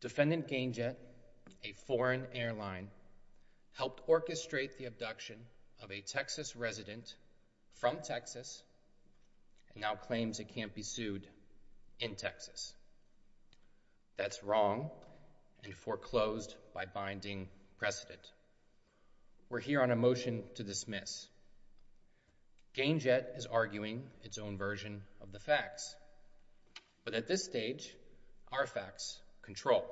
Defendant GainJet, a foreign airline, helped orchestrate the abduction of a Texas resident from Texas and now claims it can't be sued in Texas. That's wrong and foreclosed by binding precedent. We're here on a motion to dismiss. GainJet is arguing its own version of the facts, but at this stage our facts control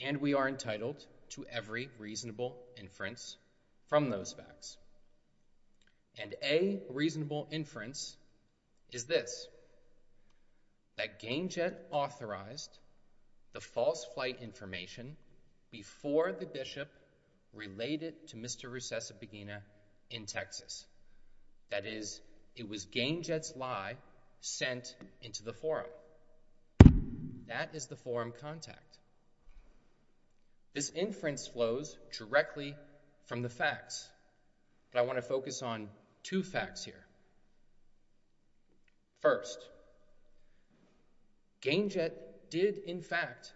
and we are entitled to every reasonable inference from those facts. And a reasonable inference is this, that GainJet authorized the false flight information before the bishop relayed it to Mr. Rusesabagina in Texas. That is, it was GainJet's lie sent into the forum. That is the forum contact. This inference flows directly from the facts, but I want to focus on two facts here. First, GainJet did, in fact,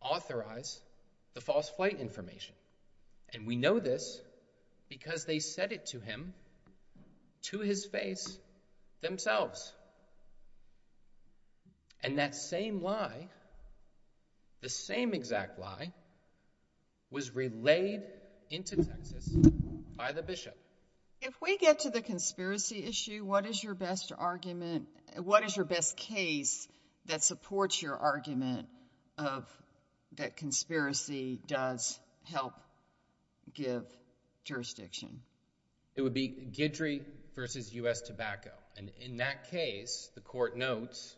authorize the false flight information and we know this because they said it to him, to his face, themselves. And that same lie, the same exact lie, was relayed into Texas by the bishop. If we get to the conspiracy issue, what is your best argument, what is your best case that supports your argument of that conspiracy does help give jurisdiction? It would be Guidry versus U.S. tobacco. And in that case, the court notes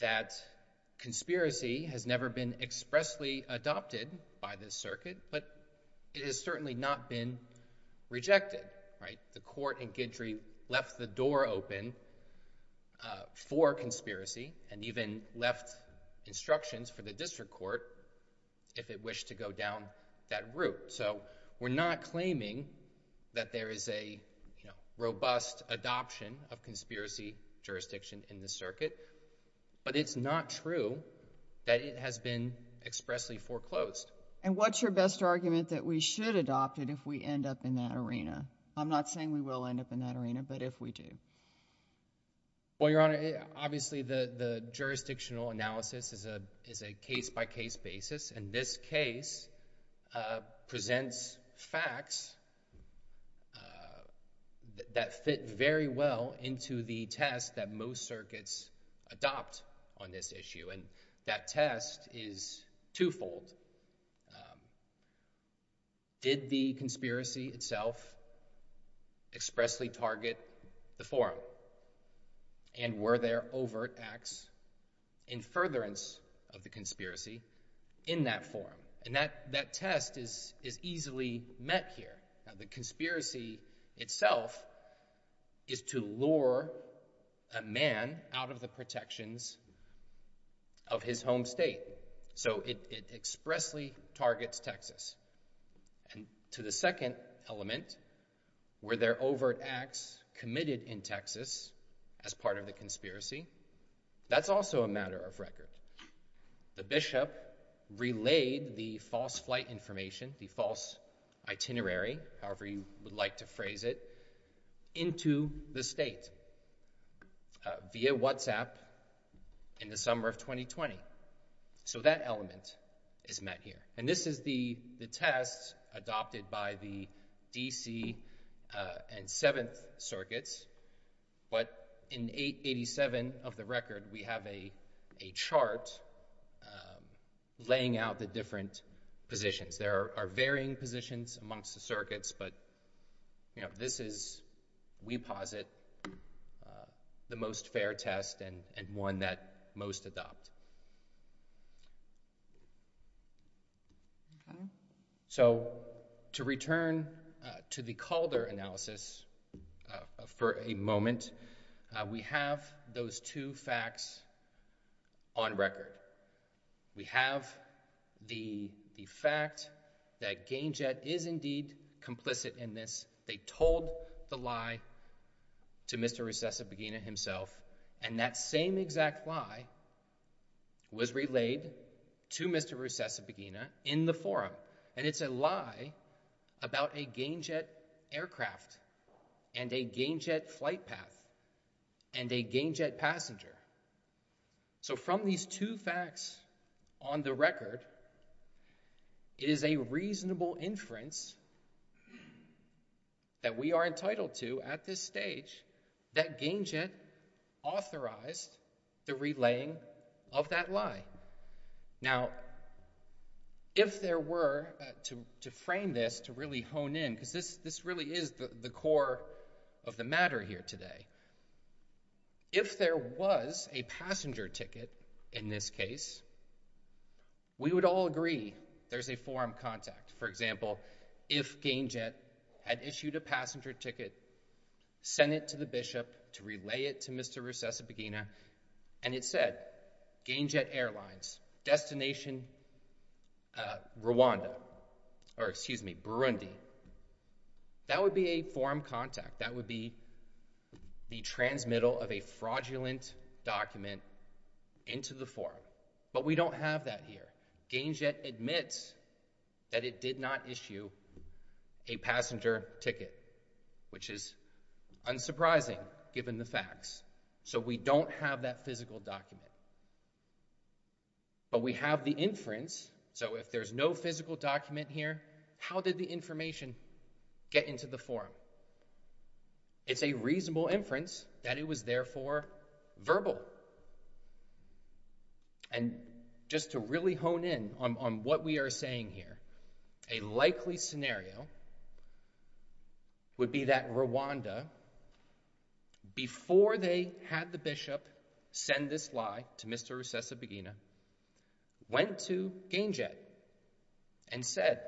that conspiracy has never been expressly adopted by this circuit, but it has certainly not been rejected, right? The court in Guidry left the door open for conspiracy and even left instructions for the district court if it wished to go down that route. So we're not claiming that there is a robust adoption of conspiracy jurisdiction in this circuit, but it's not true that it has been expressly foreclosed. And what's your best argument that we should adopt it if we end up in that arena? I'm not saying we will end up in that arena, but if we do. Well, Your Honor, obviously the jurisdictional analysis is a case-by-case basis, and this case presents facts that fit very well into the test that most circuits adopt on this issue. And that test is twofold. Did the conspiracy itself expressly target the forum? And were there overt acts in furtherance of the conspiracy in that forum? And that test is easily met here. Now, the conspiracy itself is to lure a man out of the protections of his home state. So it expressly targets Texas. And to the second element, were there overt acts committed in Texas as part of the conspiracy? That's also a matter of record. The bishop relayed the false flight information, the false itinerary, however you would like to phrase it, into the state via WhatsApp in the summer of 2020. So that element is met here. And this is the test adopted by the D.C. and Seventh Circuits. But in 887 of the record, we have a chart laying out the different positions. There are varying positions amongst the circuits, but this is, we posit, the most fair test and one that most adopt. So to return to the Calder analysis for a moment, we have those two facts on record. We have the fact that Gainjet is indeed complicit in this. They told the lie to Mr. Rusesabagina himself. And that same exact lie was relayed to Mr. Rusesabagina in the forum. And it's a lie about a Gainjet aircraft and a Gainjet flight path and a Gainjet passenger. So from these two facts on the record, it is a reasonable inference that we are entitled to at this stage that Gainjet authorized the relaying of that lie. Now, if there were, to frame this, to really hone in, because this really is the core of the matter here today, if there was a passenger ticket in this case, we would all agree there's a forum contact. For example, if Gainjet had issued a passenger ticket, sent it to the bishop to relay it to Mr. Rusesabagina, and it said Gainjet Airlines, destination Rwanda, or excuse me, Burundi, that would be a forum contact. That would be the transmittal of a fraudulent document into the forum. But we don't have that here. Gainjet admits that it did not issue a passenger ticket, which is unsurprising, given the facts. So we don't have that physical document. But we have the inference. So if there's no physical document here, how did the information get into the forum? It's a reasonable inference that it was therefore verbal. And just to really hone in on what we are saying here, a likely scenario would be that Rwanda, before they had the bishop send this lie to Mr. Rusesabagina, went to Gainjet and said,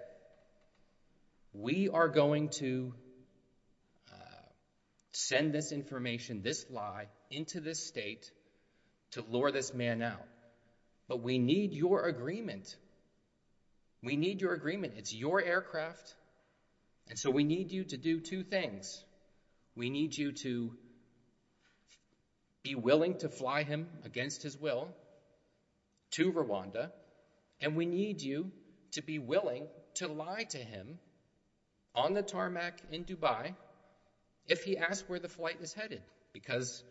we are going to send this information, this lie, into this state to lure this man out. But we need your agreement. We need your agreement. It's your aircraft. And so we need you to do two things. We need you to be willing to fly him against his will to Rwanda, and we need you to be willing to lie to him on the tarmac in Dubai if he asks where the flight is headed. Because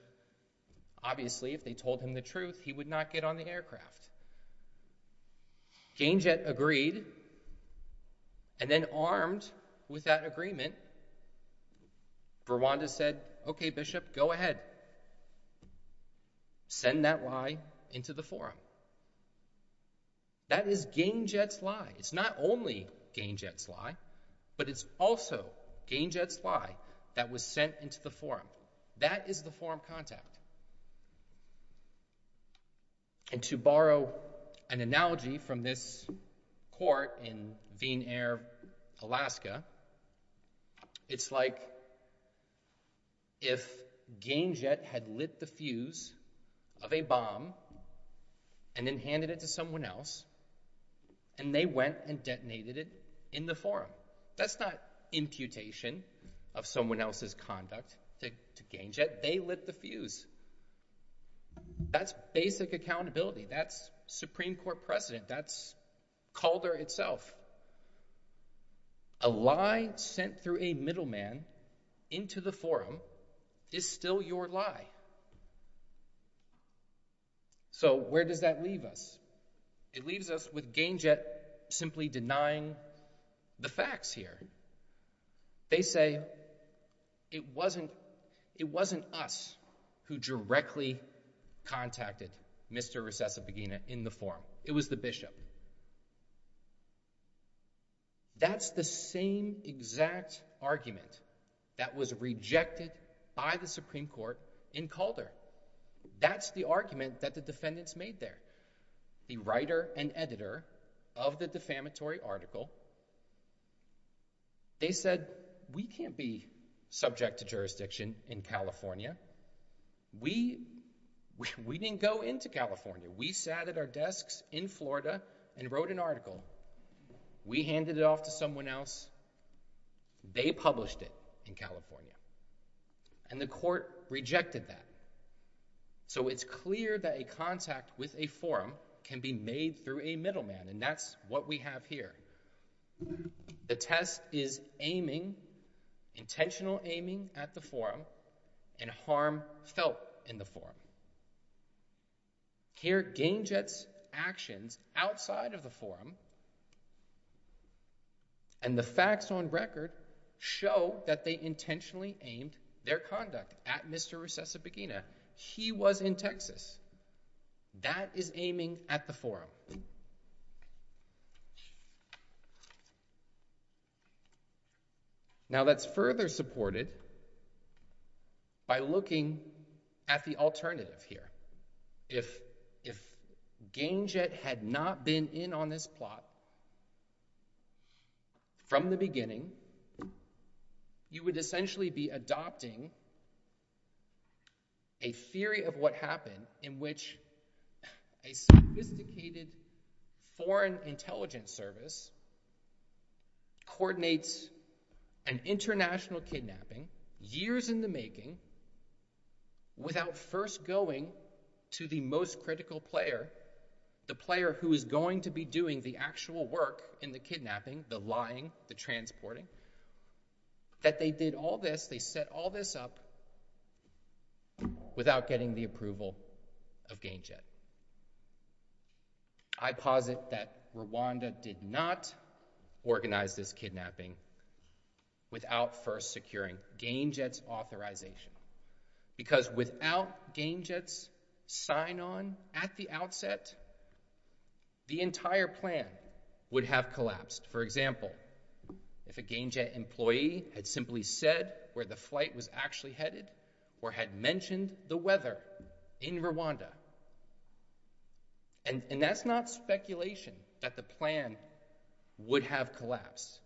obviously, obviously, if they told him the truth, he would not get on the aircraft. Gainjet agreed, and then armed with that agreement, Rwanda said, okay, bishop, go ahead. Send that lie into the forum. That is Gainjet's lie. It's not only Gainjet's lie, but it's also Gainjet's lie that was sent into the forum. That is the forum contact. And to borrow an analogy from this court in Viennaire, Alaska, it's like if Gainjet had lit the fuse of a bomb and then handed it to someone else, and they went and detonated it in the forum. That's not imputation of someone else's conduct to Gainjet. They lit the fuse. That's basic accountability. That's Supreme Court precedent. That's Calder itself. A lie sent through a middleman into the forum is still your lie. So, where does that leave us? It leaves us with Gainjet simply denying the facts here. They say it wasn't us who directly contacted Mr. Rusesabagina in the forum. It was the bishop. That's the same exact argument that was rejected by the Supreme Court in Calder. That's the argument that the defendants made there. The writer and editor of the defamatory article, they said, we can't be subject to jurisdiction in California. We didn't go into California. We sat at our desks in Florida and wrote an article. We handed it off to someone else. They published it in California, and the court rejected that. So, it's clear that a contact with a forum can be made through a middleman, and that's what we have here. The test is aiming, intentional aiming at the forum, and harm felt in the forum. Here, Gainjet's actions outside of the forum and the facts on record show that they intentionally aimed their conduct at Mr. Rusesabagina. He was in Texas. That is aiming at the forum. Now, that's further supported by looking at the alternative here. If Gainjet had not been in on this plot from the beginning, you would essentially be adopting a theory of what happened in which a sophisticated foreign intelligence service coordinates an international kidnapping, years in the making, without first going to the most critical player, the player who is going to be doing the actual work in the kidnapping, the lying, the transporting, that they did all this, they set all this up without getting the approval of Gainjet. I posit that Rwanda did not organize this kidnapping without first securing Gainjet's authorization, because without Gainjet's sign-on at the outset, the entire plan would have collapsed. For example, if a Gainjet employee had simply said where the flight was actually headed, or had mentioned the weather in Rwanda. And that's not speculation that the plan would have collapsed.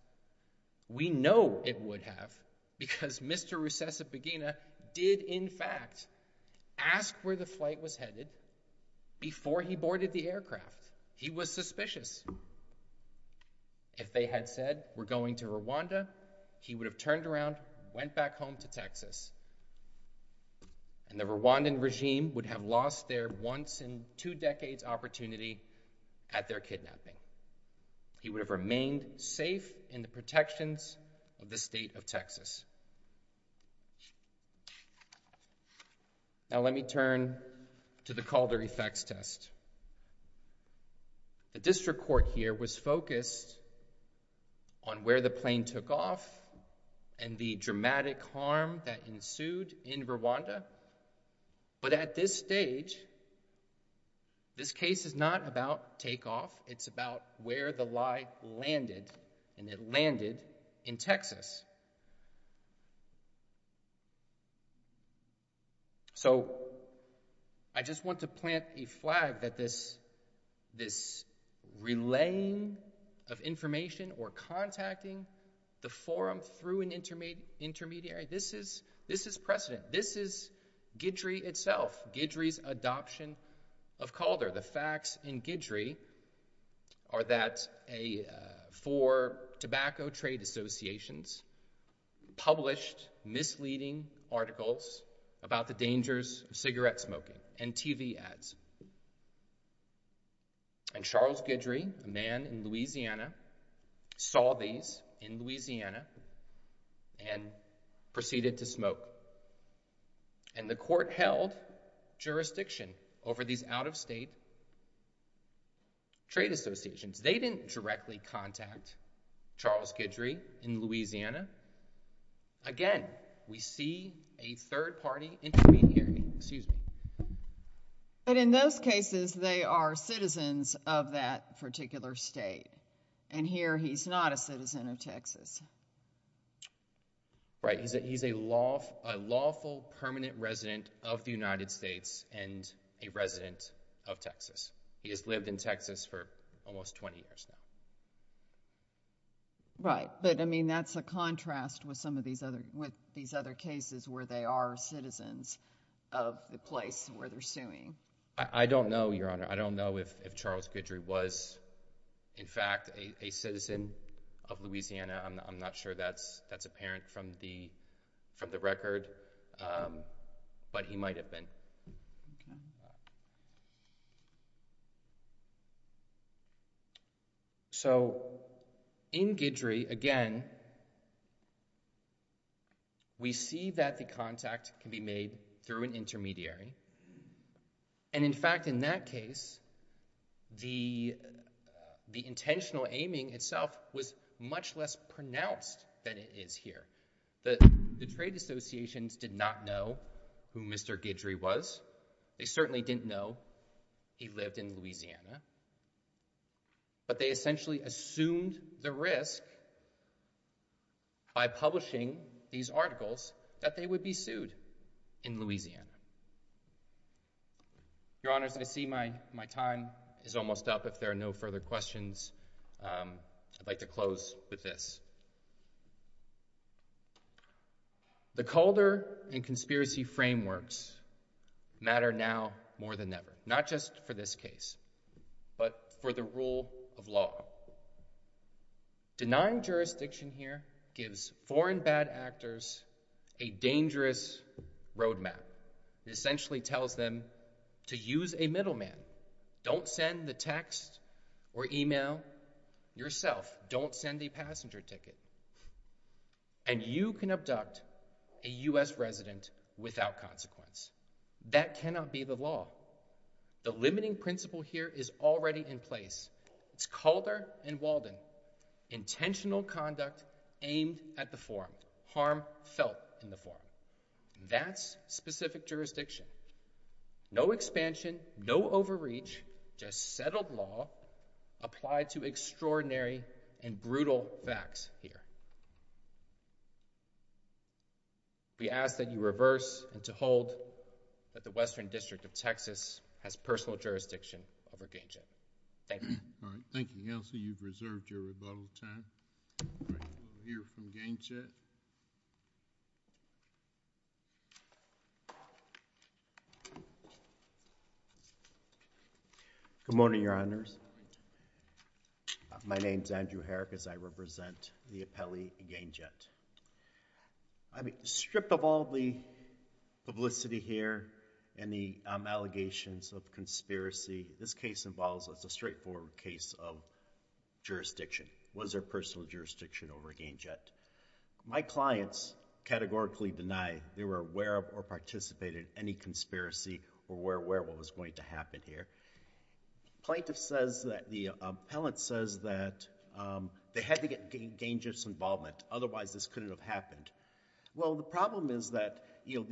We know it would have, because Mr. Rusesabagina did, in fact, ask where the flight was headed before he boarded the aircraft. He was suspicious. If they had said, we're going to Rwanda, he would have turned around, went back home to Texas. And the Rwandan regime would have lost their once in two decades opportunity at their kidnapping. He would have remained safe in the protections of the state of Texas. Now, let me turn to the Calder effects test. The district court here was focused on where the plane took off and the dramatic harm that ensued in Rwanda. But at this stage, this case is not about takeoff. It's about where the lie landed, and it landed in Texas. So, I just want to plant a flag that this, this relaying of information, or contacting the forum through an intermediary, this is precedent. This is Guidry itself, Guidry's adoption of Calder. The facts in Guidry are that a four tobacco trade associations published misleading articles about the dangers of cigarette smoking and TV ads. And Charles Guidry, a man in Louisiana, saw these in Louisiana and proceeded to smoke. And the court held jurisdiction over these out of state trade associations. They didn't directly contact Charles Guidry in Louisiana. Again, we see a third party intermediary, excuse me. But in those cases, they are citizens of that particular state. And here he's not a citizen of Texas. Right. He's a lawful permanent resident of the United States and a resident of Texas. He has lived in Texas for almost 20 years now. Right. But I mean, that's a contrast with some of these other, with these other cases where they are citizens of the place where they're suing. I don't know, Your Honor. I don't know if Charles of Louisiana, I'm not sure that's apparent from the record, but he might have been. So in Guidry, again, we see that the contact can be made through an intermediary. And in fact, in that case, the intentional aiming itself was much less pronounced than it is here. The trade associations did not know who Mr. Guidry was. They certainly didn't know he lived in Louisiana. But they essentially assumed the risk by publishing these articles that they would be sued in Louisiana. Your Honor, as I see my time is almost up, if there are no further questions, I'd like to close with this. The Calder and conspiracy frameworks matter now more than ever, not just for this case, but for the rule of law. Denying jurisdiction here gives foreign bad actors a dangerous roadmap. It essentially tells them to use a middleman. Don't send the text or email yourself. Don't send a passenger ticket. And you can abduct a U.S. resident without consequence. That cannot be the law. The limiting principle here is already in place. It's Calder and Walden. Intentional conduct aimed at the forum. Harm felt in the forum. That's specific jurisdiction. No expansion, no overreach, just settled law applied to extraordinary and brutal facts here. We ask that you reverse and to hold that the Western District of Texas has personal jurisdiction over Gainsett. Thank you. All right. Thank you, Kelsey. You've reserved your rebuttal time. All right. We'll hear from Gainsett. Good morning, your honors. My name's Andrew Herrick as I represent the appellee Gainsett. I've stripped of all the publicity here and the allegations of conspiracy. This case involves, it's a straightforward case of jurisdiction. Was there personal jurisdiction over Gainsett? My clients categorically deny they were aware of or participated in any conspiracy or were aware what was going to happen here. Plaintiff says that the appellant says that they had to get Gainsett's involvement. Otherwise, this couldn't have happened. Well, the problem is that, you know,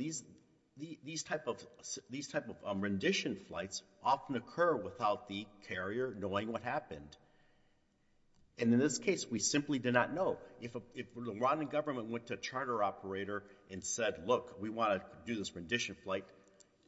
these type of rendition flights often occur without the carrier knowing what happened. And in this case, we simply did not know. If the Rwandan government went to a charter operator and said, look, we want to do this rendition flight,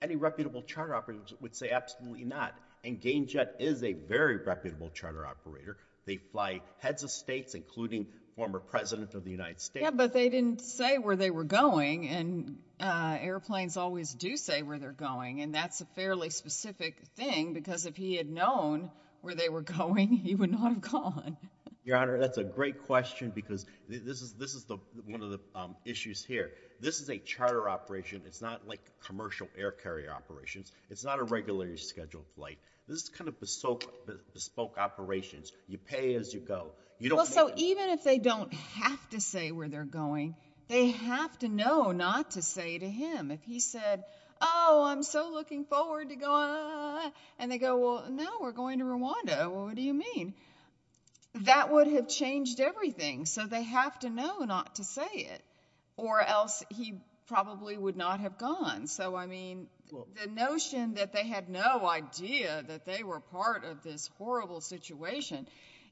any reputable charter operators would say absolutely not. And Gainsett is a very reputable charter operator. They fly heads of states, including former president of the United States. Yeah, but they didn't say where they were going. And airplanes always do say where they're going. And that's a fairly specific thing because if he had known where they were going, he would not have gone. Your Honor, that's a great question because this is one of the issues here. This is a charter operation. It's not like commercial air carrier operations. It's not a regularly scheduled flight. This is kind of bespoke operations. You pay as you go. So even if they don't have to say where they're going, they have to know not to say to him. If he said, oh, I'm so looking forward to going, and they go, well, no, we're going to Rwanda. Well, what do you mean? That would have changed everything. So they have to know not to say it or else he probably would not have gone. So, I mean, the notion that they had no idea that they were part of this horrible situation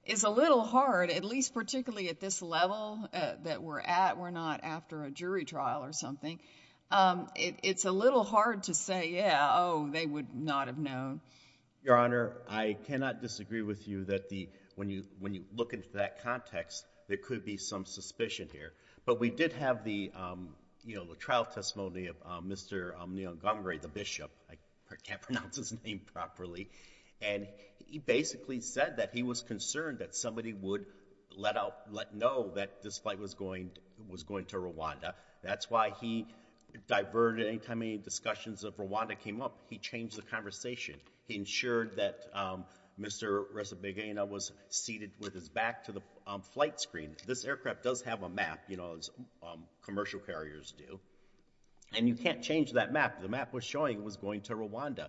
is a little hard, at least particularly at this level that we're at. We're not after a jury trial or something. It's a little hard to say, yeah, oh, they would not have known. Your Honor, I cannot disagree with you that when you look into that context, there could be some suspicion here. But we did have the trial testimony of Mr. Ngamere, the bishop. I can't pronounce his name properly. And he basically said that he was concerned that somebody would let out, let know that this flight was going to Rwanda. That's why he diverted any time any discussions of Rwanda came up. He changed the conversation. He ensured that Mr. Resabegina was seated with his back to the flight screen. This aircraft does have a map, you know, as commercial carriers do. And you can't change that map. The map was showing it was going to Rwanda.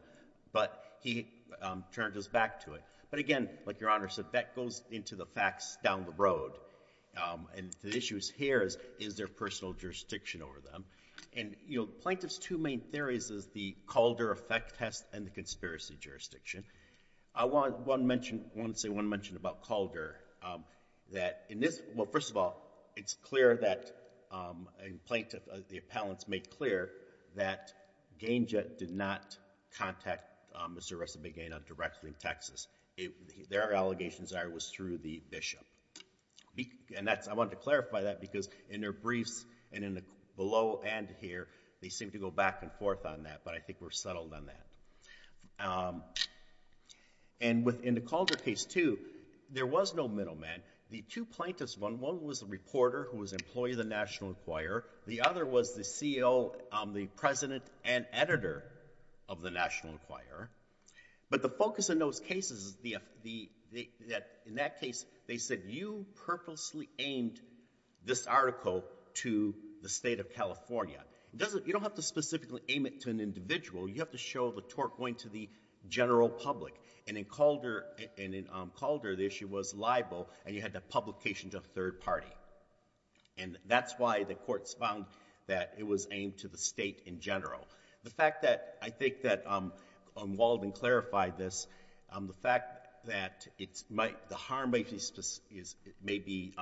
But he turned his back to it. But again, like Your Honor said, that goes into the facts down the road. And the issues here is, is there personal jurisdiction over them? And, you know, plaintiff's two main theories is the Calder effect test and the conspiracy jurisdiction. I want one mention, I want to say one mention about Calder, that in this, well, first of all, it's clear that a plaintiff, the appellants made clear that Ganja did not contact Mr. Resabegina directly in Texas. Their allegations are it was through the bishop. And that's, I wanted to clarify that because in their briefs and in the below and here, they seem to go back and forth on that. But I think we're settled on that. And within the Calder case too, there was no middleman. The two plaintiffs, one was a reporter who was an employee of the National Enquirer. The other was the CEO, the president and editor of the National Enquirer. But the focus in those cases is the, in that case, they said you purposely aimed this article to the state of California. It doesn't, you don't have to specifically aim it to an individual. You have to show the tort going to the general public. And in Calder, the issue was libel. And you had the publication to a third party. And that's why the courts found that it was aimed to the state in general. The fact that I think that Walden clarified this, the fact that it's might, the harm may be, may be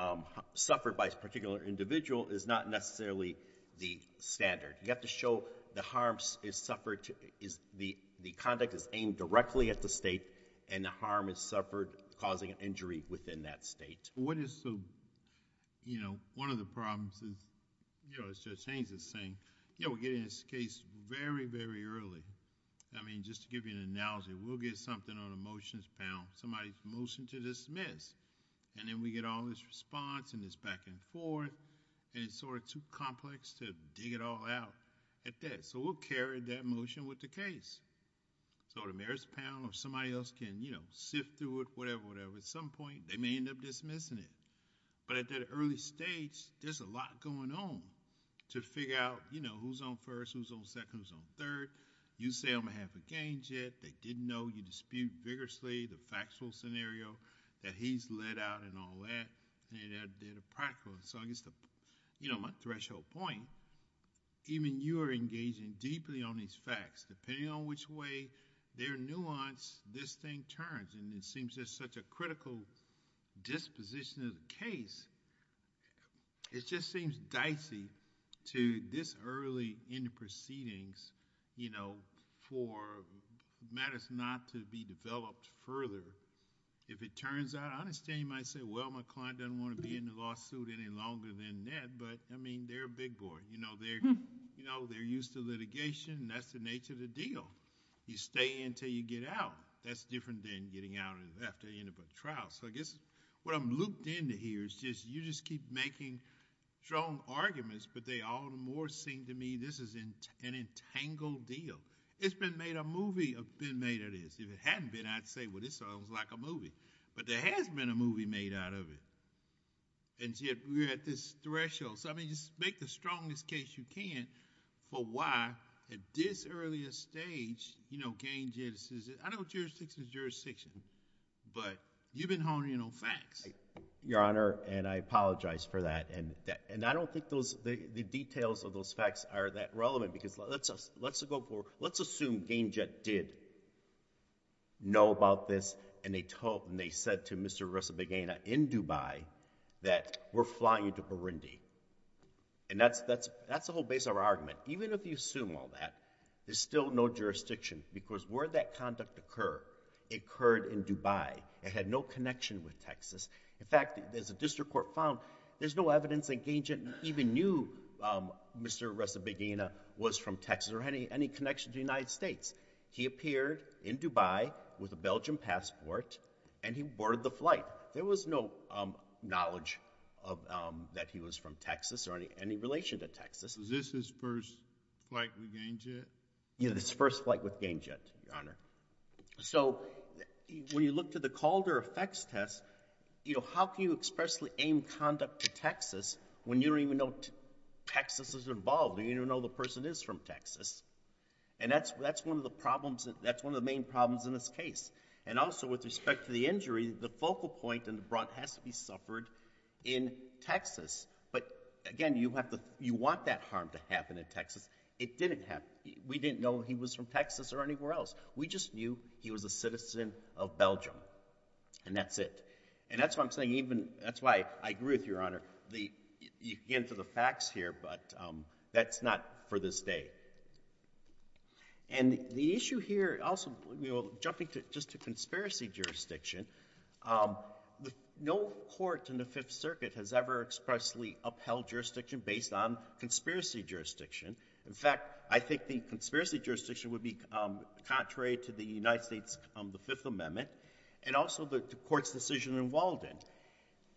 suffered by a particular individual is not necessarily the standard. You have to show the harms is suffered, is the, the conduct is aimed directly at the state and the harm is suffered causing an injury within that state. What is the, you know, one of the problems is, you know, as Judge Haynes is saying, you know, we're getting this case very, very early. I mean, just to give you an analogy, we'll get something on a motions panel, somebody's motion to dismiss, and then we get all this response and this back and forth, and it's sort of too complex to dig it all out at this. So, we'll carry that motion with the case. So, the mayor's panel or somebody else can, you know, sift through it, whatever, whatever. At some point, they may end up dismissing it. But at that early stage, there's a lot going on to figure out, you know, who's on first, who's on second, who's on third. You say, I'm going to have the gains yet. They didn't know you dispute vigorously the factual scenario that he's let out and all that. And that did not seem practical. So, I guess, you know, my threshold point, even you are engaging deeply on these facts, depending on which way they're nuanced, this thing turns. And it seems there's such a critical disposition of the case, it just seems dicey to this early in the proceedings, you know, for matters not to be developed further. If it turns out, I understand you might say, well, McClellan doesn't want to be in the lawsuit any longer than that. But, I mean, they're a big boy. You know, they're, you know, they're used to litigation. That's the nature of the deal. You stay in till you get out. That's different than getting out after you end up at trial. So, I guess, what I'm looped into here is just, you just keep making strong arguments, but they all the more seem to me, this is an entangled deal. It's been made a movie of being made of this. If it hadn't been, I'd say, well, this sounds like a movie. But there has never been a movie made out of it. And yet, we're at this threshold. So, I mean, just make the strongest case you can for why, at this earlier stage, you know, Gainjett is, I know jurisdiction is jurisdiction, but you've been honing in on facts. Your Honor, and I apologize for that. And I don't think the details of those facts are that relevant. Because let's assume Gainjett did know about this, and they told, and they said to Mr. Resabegina in Dubai that we're flying you to Burundi. And that's the whole base of our argument. Even if you assume all that, there's still no jurisdiction. Because where that conduct occurred, it occurred in Dubai. It had no connection with Texas. In fact, as the district court found, there's no evidence that Gainjett even knew Mr. Resabegina was from Texas or had any connection to the United States. He appeared in Dubai with a Belgian passport, and he boarded the flight. There was no knowledge that he was from Texas or any relation to Texas. Is this his first flight with Gainjett? Yeah, his first flight with Gainjett, Your Honor. So, when you look to the Calder effects test, you know, how can you expressly aim conduct to Texas when you don't even know Texas is involved, and you don't even know the person is from Texas. And that's one of the problems, that's one of the main problems in this case. And also with respect to the injury, the focal point in the brunt has to be suffered in Texas. But again, you have to, you want that harm to happen in Texas. It didn't happen. We didn't know he was from Texas or anywhere else. We just knew he was a citizen of Belgium. And that's it. And that's why I'm saying even, that's why I agree with Your Honor. You can get into the facts here, but that's not for this day. And the issue here also, you know, jumping to just a conspiracy jurisdiction, no court in the Fifth Circuit has ever expressly upheld jurisdiction based on conspiracy jurisdiction. In fact, I think the conspiracy jurisdiction would be contrary to the United States decision in Walden.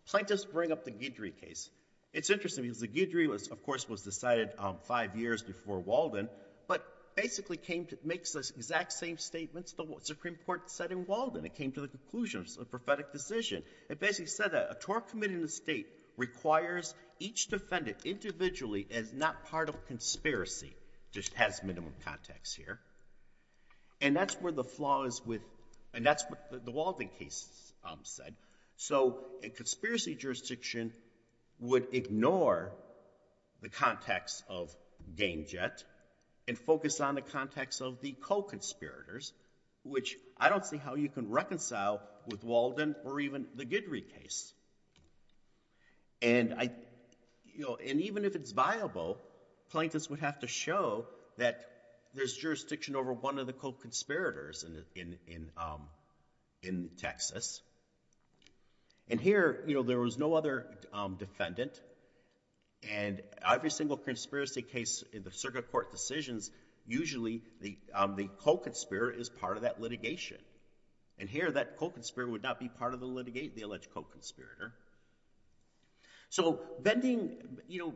Plaintiffs bring up the Guidry case. It's interesting because the Guidry was, of course, was decided five years before Walden, but basically came to, makes the exact same statements the Supreme Court said in Walden. It came to the conclusion of a prophetic decision. It basically said that a tort committed in the state requires each defendant individually as not part of conspiracy. Just has minimum context here. And that's where the flaw is with, and that's what the Walden case said. So a conspiracy jurisdiction would ignore the context of Game Jet and focus on the context of the co-conspirators, which I don't see how you can reconcile with Walden or even the Guidry case. And I, you know, and even if it's viable, plaintiffs would have to show that there's jurisdiction over one of the co-conspirators in Texas. And here, you know, there was no other defendant and every single conspiracy case in the circuit court decisions, usually the co-conspirator is part of that litigation. And here that co-conspirator would not be part of the litigate, the alleged co-conspirator. So bending, you know,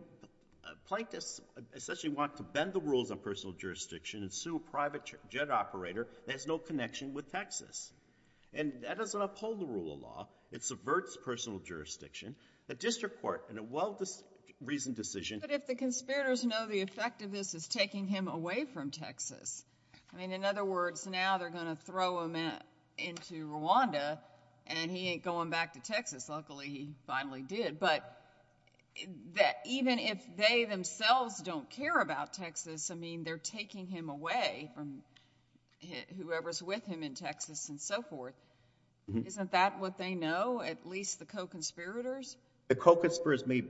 plaintiffs essentially want to bend the rules on personal jurisdiction and sue a private jet operator that has no connection with Texas. And that doesn't uphold the rule of law. It subverts personal jurisdiction. The district court in a well-reasoned decision. But if the conspirators know the effect of this is taking him away from Texas, I mean, in other words, now they're going to throw him into Rwanda and he ain't going back to Texas. Luckily he finally did. But that even if they themselves don't care about Texas, I mean, they're taking him away from whoever's with him in Texas and so forth. Isn't that what they know, at least the co-conspirators? The co-conspirators may,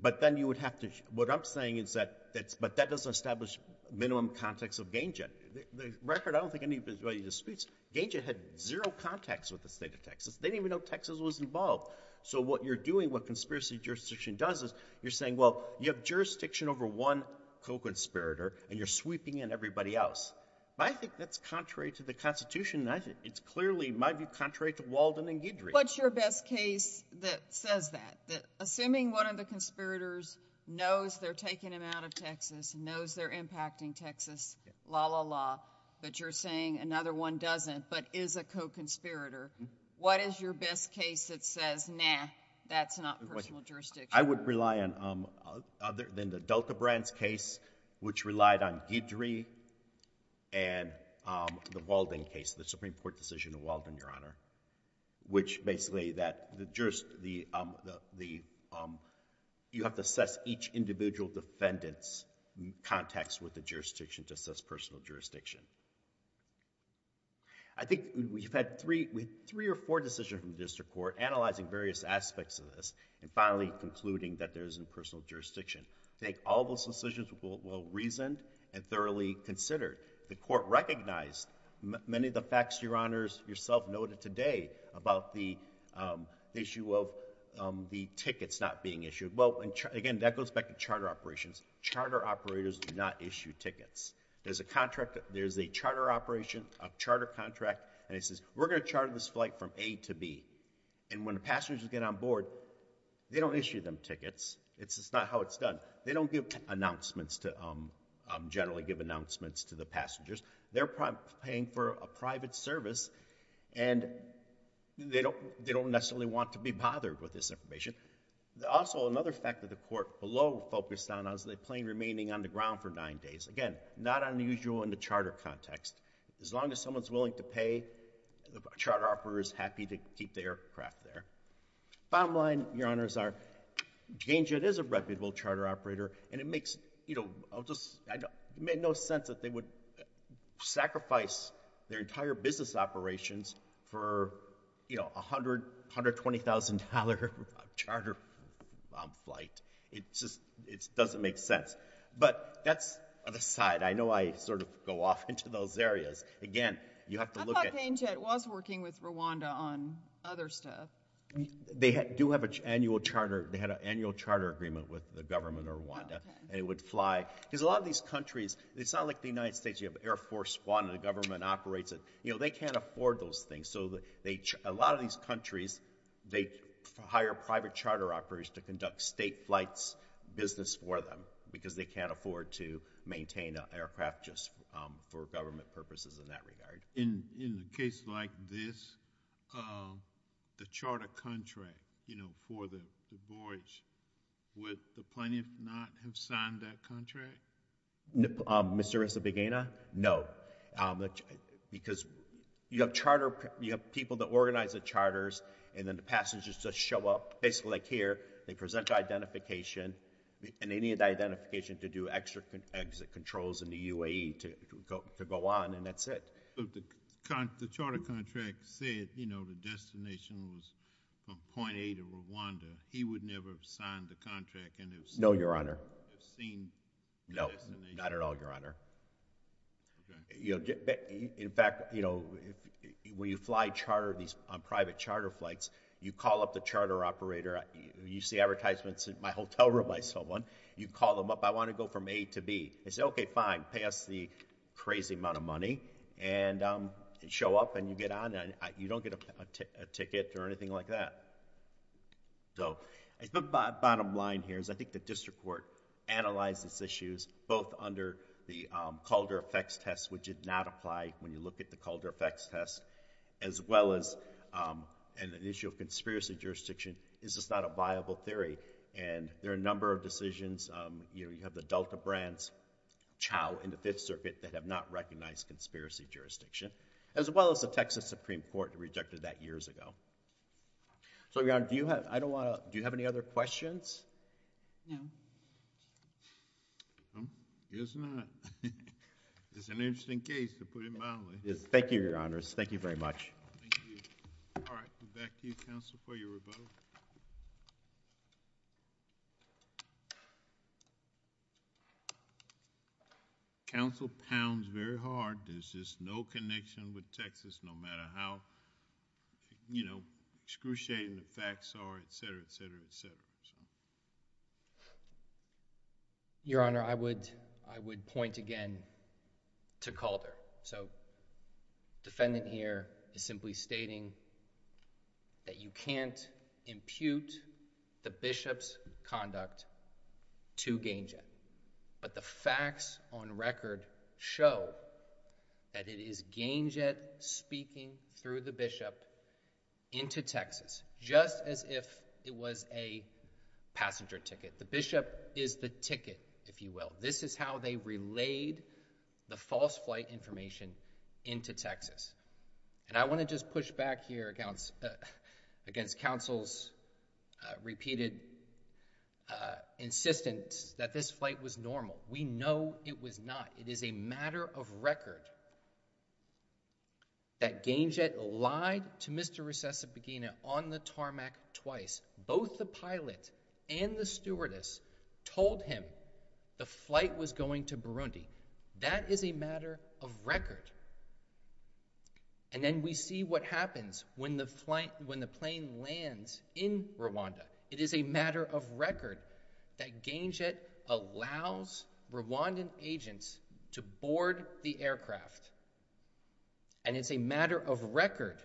but then you would have to, what I'm saying is that that's, but that doesn't establish minimum context of Ganget. The record, I don't think anybody disputes, Ganget had zero contacts with the state of Texas. They didn't even know Texas was involved. So what you're doing, what conspiracy jurisdiction does is you're saying, well, you have jurisdiction over one co-conspirator and you're sweeping in everybody else. But I think that's contrary to the constitution and I think it's clearly, might be contrary to Walden and Guidry. What's your best case that says that? Assuming one of the conspirators knows they're taking him out of Texas, knows they're impacting Texas, la la la, but you're saying another one doesn't, but is a co-conspirator. What is your best case that says, nah, that's not personal jurisdiction? I would rely on, other than the Delta Brands case, which relied on Guidry and the Walden case, the Supreme Court decision of Walden, Your Honor, which basically that you have to assess each individual defendant's context with the jurisdiction to assess personal jurisdiction. I think we've had three or four decisions from the district court analyzing various aspects of this and finally concluding that there isn't personal jurisdiction. I think all those decisions were reasoned and thoroughly considered. The court recognized many of the facts, Your Honors, yourself noted today about the issue of the tickets not being issued. Well, again, that goes back to charter operations. Charter operators do not issue tickets. There's a charter operation, a charter contract, and it says, we're going to charter this flight from A to B. When the passengers get on board, they don't issue them tickets. It's just not how it's done. They don't give announcements, generally give announcements to the passengers. They're paying for a private service and they don't necessarily want to be bothered with this information. Also, another fact that the court below focused on is the plane remaining on the ground for nine days. Again, not unusual in the charter context. As long as someone's willing to pay, the charter operator is happy to keep the aircraft there. Bottom line, Your Honors, is that Jane Judd is a reputable charter operator and it makes no sense that they would sacrifice their entire business operations for $120,000 charter flight. It just doesn't make sense. But that's on the side. I know I sort of go off into those areas. Again, you have to look at- I thought Jane Judd was working with Rwanda on other stuff. They do have an annual charter. They had an annual charter agreement with the government of Rwanda and it would fly. Because a lot of these countries, it's not like the United States. You have Air Force One and the government operates it. They can't afford those things. So a lot of these countries, they hire private charter operators to conduct state flights business for them because they can't afford to maintain an aircraft just for government purposes in that regard. In a case like this, the charter contract for the voyage, would the plaintiff not have signed that contract? Mr. Isabeguena, no. Because you have people that organize the charters and then the passengers just show up. Like here, they present identification and they need identification to do extra exit controls in the UAE to go on and that's it. The charter contract said the destination was from point A to Rwanda. He would never have signed the contract and have seen- No, Your Honor. No, not at all, Your Honor. In fact, when you fly charter on private charter flights, you call up the charter operator. You see advertisements in my hotel room by someone. You call them up. I want to go from A to B. They say, okay, fine. Pay us the crazy amount of money and show up and you get on. You don't get a ticket or anything like that. So the bottom line here is I think the district court analyzed these issues both under the Calder effects test, which did not apply when you look at the Calder effects test, as well as an initial conspiracy jurisdiction. Is this not a viable theory? And there are a number of decisions. You have the Delta brands, chow, in the Fifth Circuit that have not recognized conspiracy jurisdiction, as well as the Texas Supreme Court rejected that years ago. So, Your Honor, do you have any other questions? No. He does not. It's an interesting case, to put it mildly. Thank you, Your Honors. Thank you very much. All right. Back to you, Counsel, for your rebuttal. Counsel pounds very hard. There's just no connection with Texas, no matter how, you know, excruciating the facts are, et cetera, et cetera, et cetera. Your Honor, I would point again to Calder. So, defendant here is simply stating that you can't impute the bishop's conduct to Gainjet, but the facts on record show that it is Gainjet speaking through the bishop into Texas, just as if it was a passenger ticket. The bishop is the ticket, if you will. This is how they relayed the false flight information into Texas. And I want to just push back here against counsel's repeated insistence that this flight was normal. We know it was not. It is a matter of record that Gainjet lied to Mr. Recessa Pagina on the tarmac twice. Both the pilot and the stewardess told him the flight was going to Burundi. That is a matter of record. And then we see what happens when the flight, when the plane lands in Rwanda. It is a matter of record that Gainjet allows Rwandan agents to board the aircraft. And it's a matter of record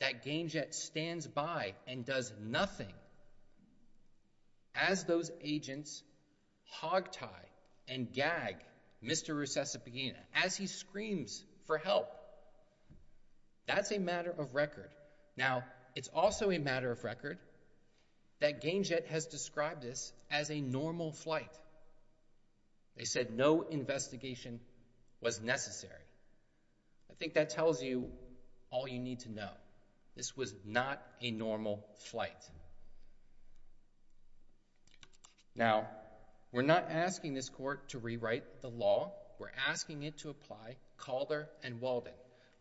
that Gainjet stands by and does nothing as those agents hogtie and gag Mr. Recessa Pagina as he screams for help. That's a matter of record. Now, it's also a matter of record that Gainjet has described this as a normal flight. They said no investigation was necessary. I think that tells you all you need to know. This was not a normal flight. Now, we're not asking this court to rewrite the law. We're asking it to apply Calder and Walden.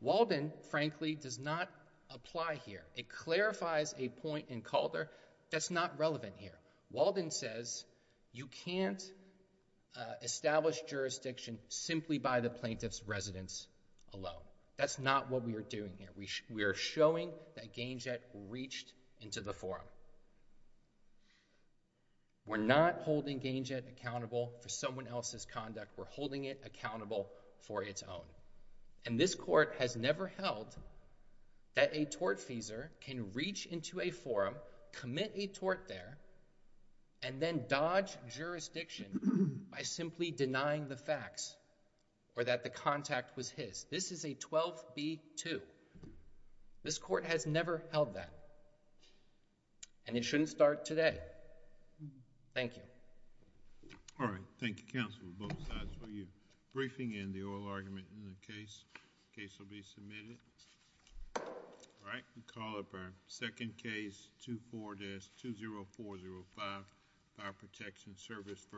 Walden, frankly, does not apply here. It clarifies a point in Calder that's not relevant here. Walden says you can't establish jurisdiction simply by the plaintiff's residence alone. That's not what we are doing here. We are showing that Gainjet reached into the forum. We're not holding Gainjet accountable for someone else's conduct. We're holding it accountable for its own. And this court has never held that a tortfeasor can reach into a forum, commit a tort there, and then dodge jurisdiction by simply denying the facts or that the contact was his. This is a 12-B-2. This court has never held that. And it shouldn't start today. Thank you. All right. Thank you, counsel, both sides. We're briefing in the oral argument in the case. Case will be submitted. All right. We'll call up our second case, 24-20405, Fire Protection Service v. Cervitec. Thank you.